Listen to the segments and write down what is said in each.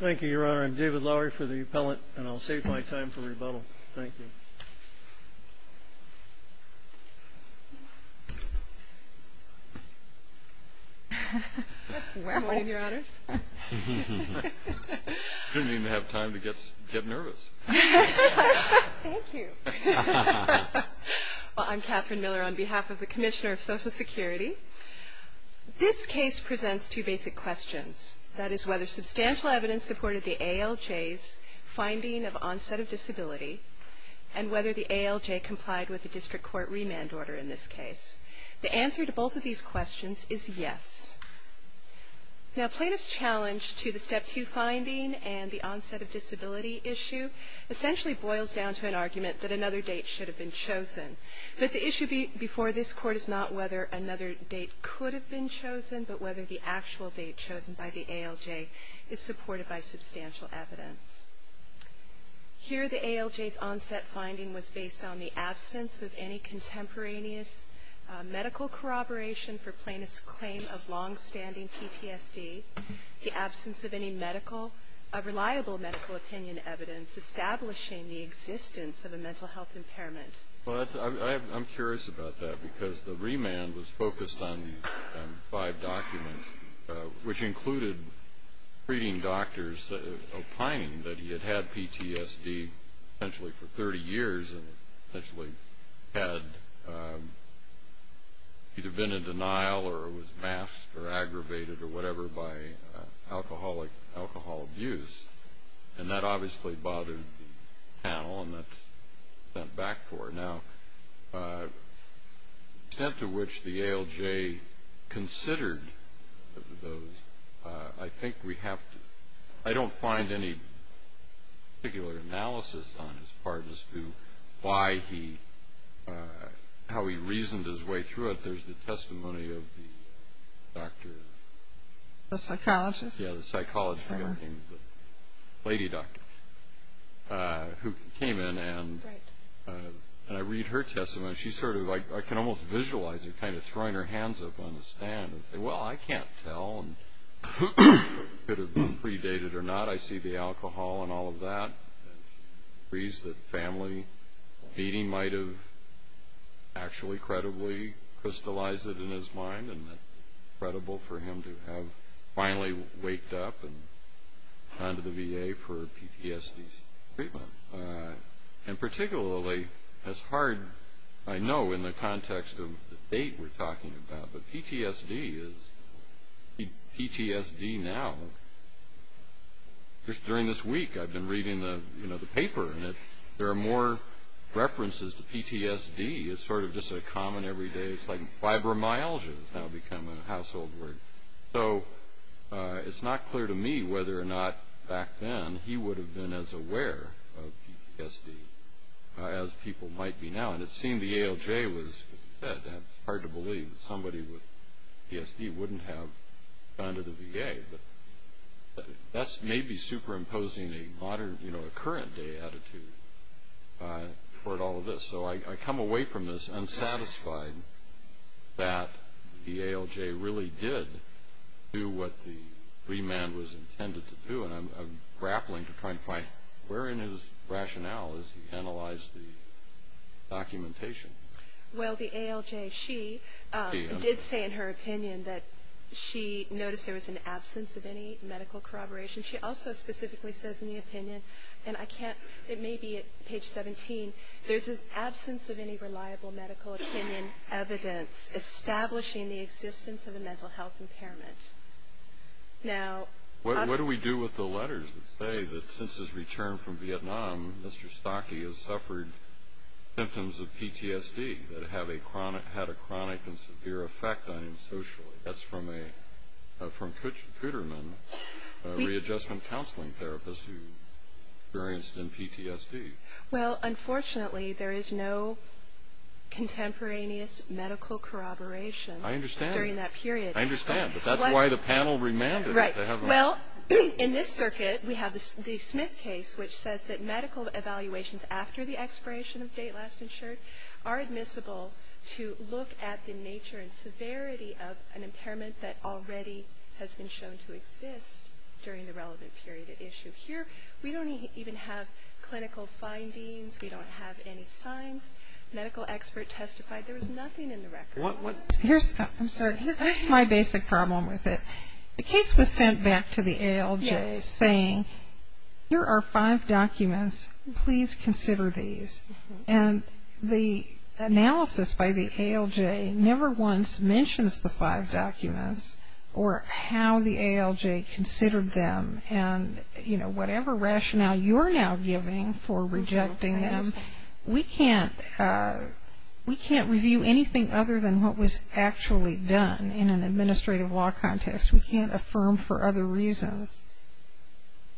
Thank you, Your Honor. I'm David Lowery for the appellant, and I'll save my time for rebuttal. Thank you. Good morning, Your Honors. Didn't even have time to get nervous. Thank you. I'm Catherine Miller on behalf of the Commissioner of Social Security. This case presents two basic questions. That is, whether substantial evidence supported the ALJ's finding of onset of disability, and whether the ALJ complied with the district court remand order in this case. The answer to both of these questions is yes. Now, plaintiff's challenge to the Step 2 finding and the onset of disability issue essentially boils down to an argument that another date should have been chosen. But the issue before this Court is not whether another date could have been chosen, but whether the actual date chosen by the ALJ is supported by substantial evidence. Here, the ALJ's onset finding was based on the absence of any contemporaneous medical corroboration for plaintiff's claim of longstanding PTSD, the absence of any reliable medical opinion evidence establishing the existence of a mental health impairment. I'm curious about that, because the remand was focused on five documents, which included treating doctors, opining that he had had PTSD essentially for 30 years and essentially had either been in denial or was masked or aggravated or whatever by alcoholic, alcohol abuse. And that obviously bothered the panel, and that's what we went back for. Now, the extent to which the ALJ considered those, I think we have to – I don't find any particular analysis on his part as to why he – how he reasoned his way through it. There's the testimony of the doctor. The psychologist? Yeah, the psychologist, the lady doctor, who came in, and I read her testimony. She sort of – I can almost visualize her kind of throwing her hands up on the stand and say, well, I can't tell who could have been predated or not. I see the alcohol and all of that. She agrees that family meeting might have actually, credibly crystallized it in his mind and that it's credible for him to have finally waked up and gone to the VA for PTSD treatment. And particularly, as hard – I know in the context of the date we're talking about, but PTSD is – PTSD now, just during this week, I've been reading the paper, and there are more references to PTSD. It's sort of just a common everyday – it's like fibromyalgia. It's now become a household word. So it's not clear to me whether or not back then he would have been as aware of PTSD as people might be now. And it seemed the ALJ was – as I said, it's hard to believe that somebody with PTSD wouldn't have gone to the VA. But that's maybe superimposing a modern – you know, a current-day attitude toward all of this. So I come away from this unsatisfied that the ALJ really did do what the remand was intended to do. And I'm grappling to try and find where in his rationale is he analyzed the documentation. Well, the ALJ, she did say in her opinion that she noticed there was an absence of any medical corroboration. She also specifically says in the opinion – and I can't – it may be at page 17 – there's an absence of any reliable medical opinion evidence establishing the existence of a mental health impairment. Now – What do we do with the letters that say that since his return from Vietnam, Mr. Stocke has suffered symptoms of PTSD that had a chronic and severe effect on him socially? That's from Kutterman, a readjustment counseling therapist who experienced PTSD. Well, unfortunately, there is no contemporaneous medical corroboration during that period. I understand. I understand. But that's why the panel remanded. Right. Well, in this circuit, we have the Smith case, which says that medical evaluations after the expiration of date last insured are admissible to look at the nature and severity of an impairment that already has been shown to exist during the relevant period at issue. Here, we don't even have clinical findings. We don't have any signs. Medical expert testified. There was nothing in the record. Here's – I'm sorry. Here's my basic problem with it. The case was sent back to the ALJ saying, here are five documents. Please consider these. And the analysis by the ALJ never once mentions the five documents or how the ALJ considered them. And, you know, whatever rationale you're now giving for rejecting them, we can't review anything other than what was actually done in an administrative law context. We can't affirm for other reasons.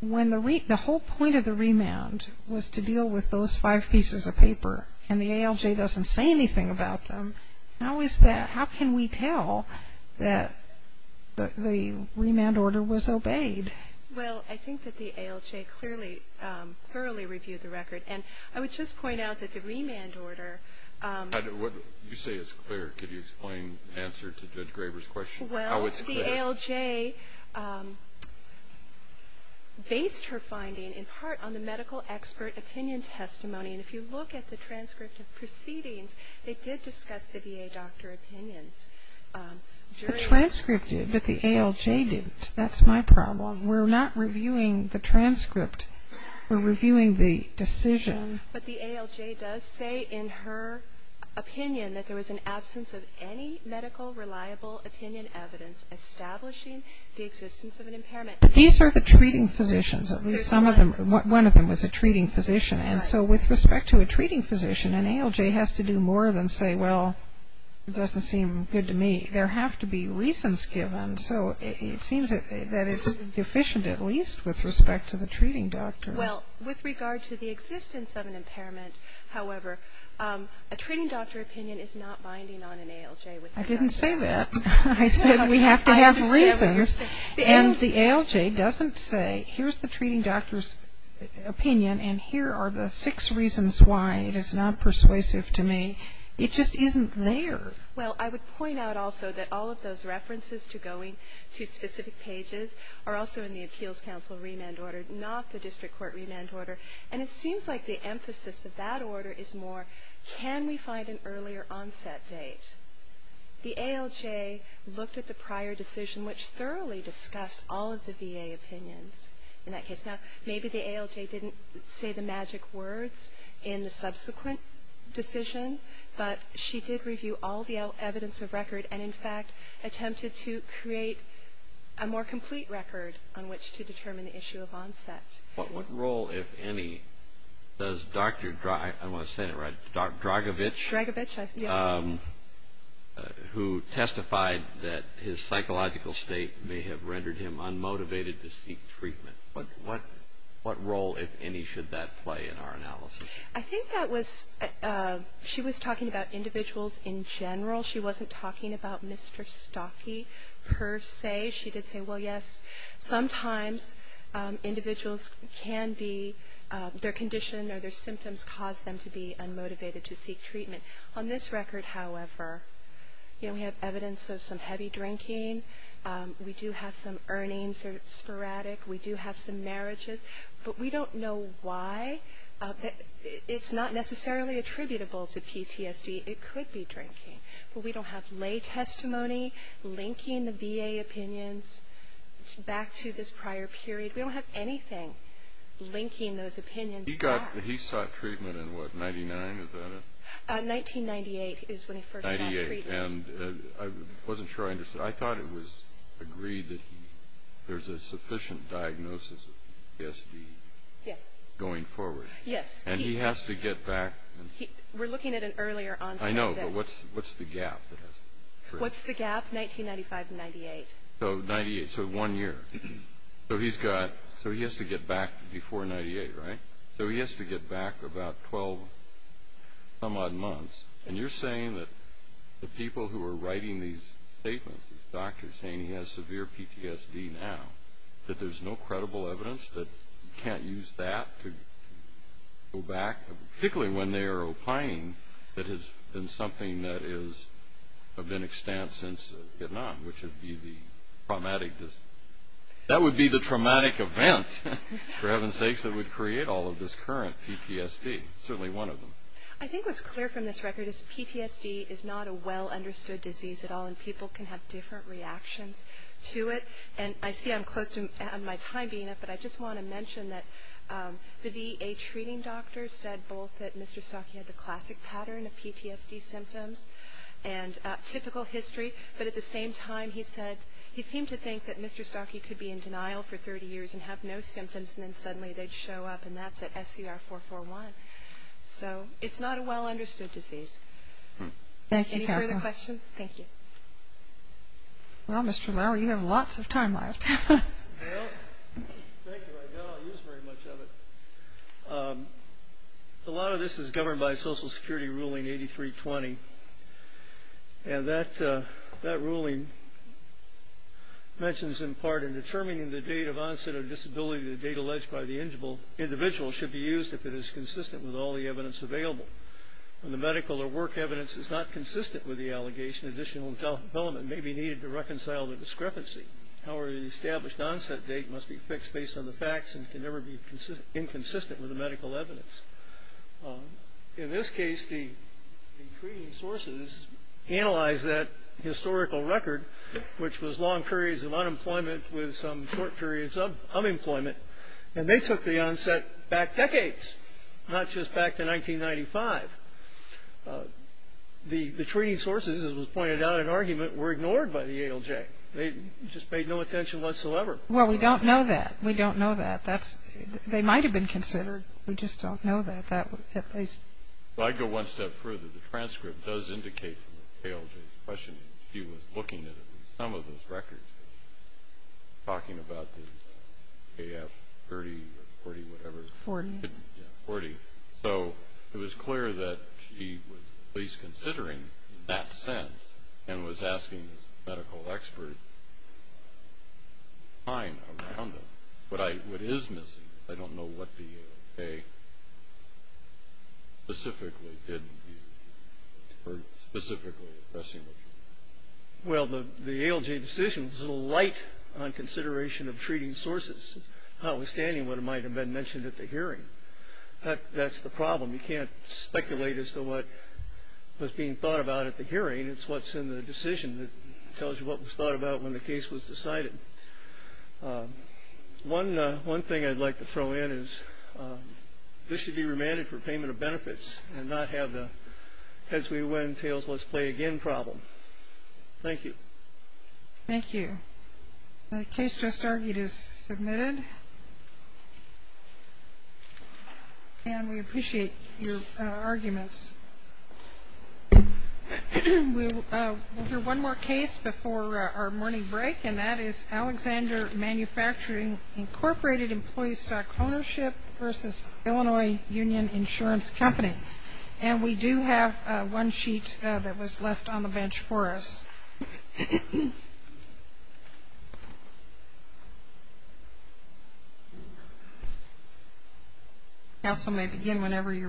When the whole point of the remand was to deal with those five pieces of paper, and the ALJ doesn't say anything about them, how is that – that the remand order was obeyed? Well, I think that the ALJ clearly – thoroughly reviewed the record. And I would just point out that the remand order – You say it's clear. Could you explain the answer to Judge Graber's question? Well, the ALJ based her finding in part on the medical expert opinion testimony. And if you look at the transcript of proceedings, they did discuss the VA doctor opinions. The transcript did, but the ALJ didn't. That's my problem. We're not reviewing the transcript. We're reviewing the decision. But the ALJ does say in her opinion that there was an absence of any medical reliable opinion evidence establishing the existence of an impairment. These are the treating physicians. At least some of them – one of them was a treating physician. And so with respect to a treating physician, an ALJ has to do more than say, well, it doesn't seem good to me. There have to be reasons given. So it seems that it's deficient at least with respect to the treating doctor. Well, with regard to the existence of an impairment, however, a treating doctor opinion is not binding on an ALJ. I didn't say that. I said we have to have reasons. And the ALJ doesn't say, here's the treating doctor's opinion and here are the six reasons why it is not persuasive to me. It just isn't there. Well, I would point out also that all of those references to going to specific pages are also in the Appeals Council remand order, not the District Court remand order. And it seems like the emphasis of that order is more, can we find an earlier onset date? The ALJ looked at the prior decision, which thoroughly discussed all of the VA opinions in that case. Now, maybe the ALJ didn't say the magic words in the subsequent decision, but she did review all the evidence of record and, in fact, attempted to create a more complete record on which to determine the issue of onset. What role, if any, does Dr. Dragovich, who testified that his psychological state may have rendered him unmotivated to seek treatment, what role, if any, should that play in our analysis? I think that was, she was talking about individuals in general. She wasn't talking about Mr. Stockey per se. She did say, well, yes, sometimes individuals can be, their condition or their symptoms cause them to be unmotivated to seek treatment. On this record, however, we have evidence of some heavy drinking. We do have some earnings that are sporadic. We do have some marriages. But we don't know why. It's not necessarily attributable to PTSD. It could be drinking. But we don't have lay testimony linking the VA opinions back to this prior period. We don't have anything linking those opinions back. He sought treatment in what, 1999, is that it? 1998 is when he first sought treatment. 1998. And I wasn't sure I understood. I thought it was agreed that there's a sufficient diagnosis of PTSD going forward. Yes. And he has to get back. We're looking at an earlier onset. I know, but what's the gap? What's the gap? 1995 to 1998. So one year. So he has to get back before 98, right? So he has to get back about 12 some odd months. And you're saying that the people who are writing these statements, these doctors saying he has severe PTSD now, that there's no credible evidence that you can't use that to go back, particularly when they are opining it has been something that has been extant since Vietnam, which would be the traumatic event, for heaven's sakes, that would create all of this current PTSD, certainly one of them. I think what's clear from this record is PTSD is not a well-understood disease at all, and people can have different reactions to it. And I see I'm close to my time being up, but I just want to mention that the VA treating doctor said both that Mr. Stocke had the classic pattern of PTSD symptoms and typical history, but at the same time he said he seemed to think that Mr. Stocke could be in denial for 30 years and have no symptoms, and then suddenly they'd show up, and that's at SCR441. So it's not a well-understood disease. Any further questions? Thank you. Well, Mr. Lauer, you have lots of time left. Thank you. I'll use very much of it. A lot of this is governed by Social Security ruling 8320, and that ruling mentions in part in determining the date of onset of disability, the date alleged by the individual should be used if it is consistent with all the evidence available. When the medical or work evidence is not consistent with the allegation, additional development may be needed to reconcile the discrepancy. However, the established onset date must be fixed based on the facts and can never be inconsistent with the medical evidence. In this case, the sources analyzed that historical record, which was long periods of unemployment with some short periods of unemployment, and they took the onset back decades, not just back to 1995. The treating sources, as was pointed out in argument, were ignored by the ALJ. They just paid no attention whatsoever. Well, we don't know that. We don't know that. They might have been considered. We just don't know that. She was looking at some of those records, talking about the AF30 or 40, whatever. Forty. Yeah, 40. So it was clear that she was at least considering in that sense and was asking the medical experts to find out around them. What is missing, I don't know what the ALJ specifically didn't view or specifically is pressing with you. Well, the ALJ decision was a little light on consideration of treating sources, notwithstanding what might have been mentioned at the hearing. That's the problem. You can't speculate as to what was being thought about at the hearing. It's what's in the decision that tells you what was thought about when the case was decided. One thing I'd like to throw in is this should be remanded for payment of benefits and not have the heads we win, tails let's play again problem. Thank you. Thank you. The case just argued is submitted. And we appreciate your arguments. We'll hear one more case before our morning break, and that is Alexander Manufacturing Incorporated Employee Stock Ownership versus Illinois Union Insurance Company. And we do have one sheet that was left on the bench for us. Counsel may begin whenever you're ready.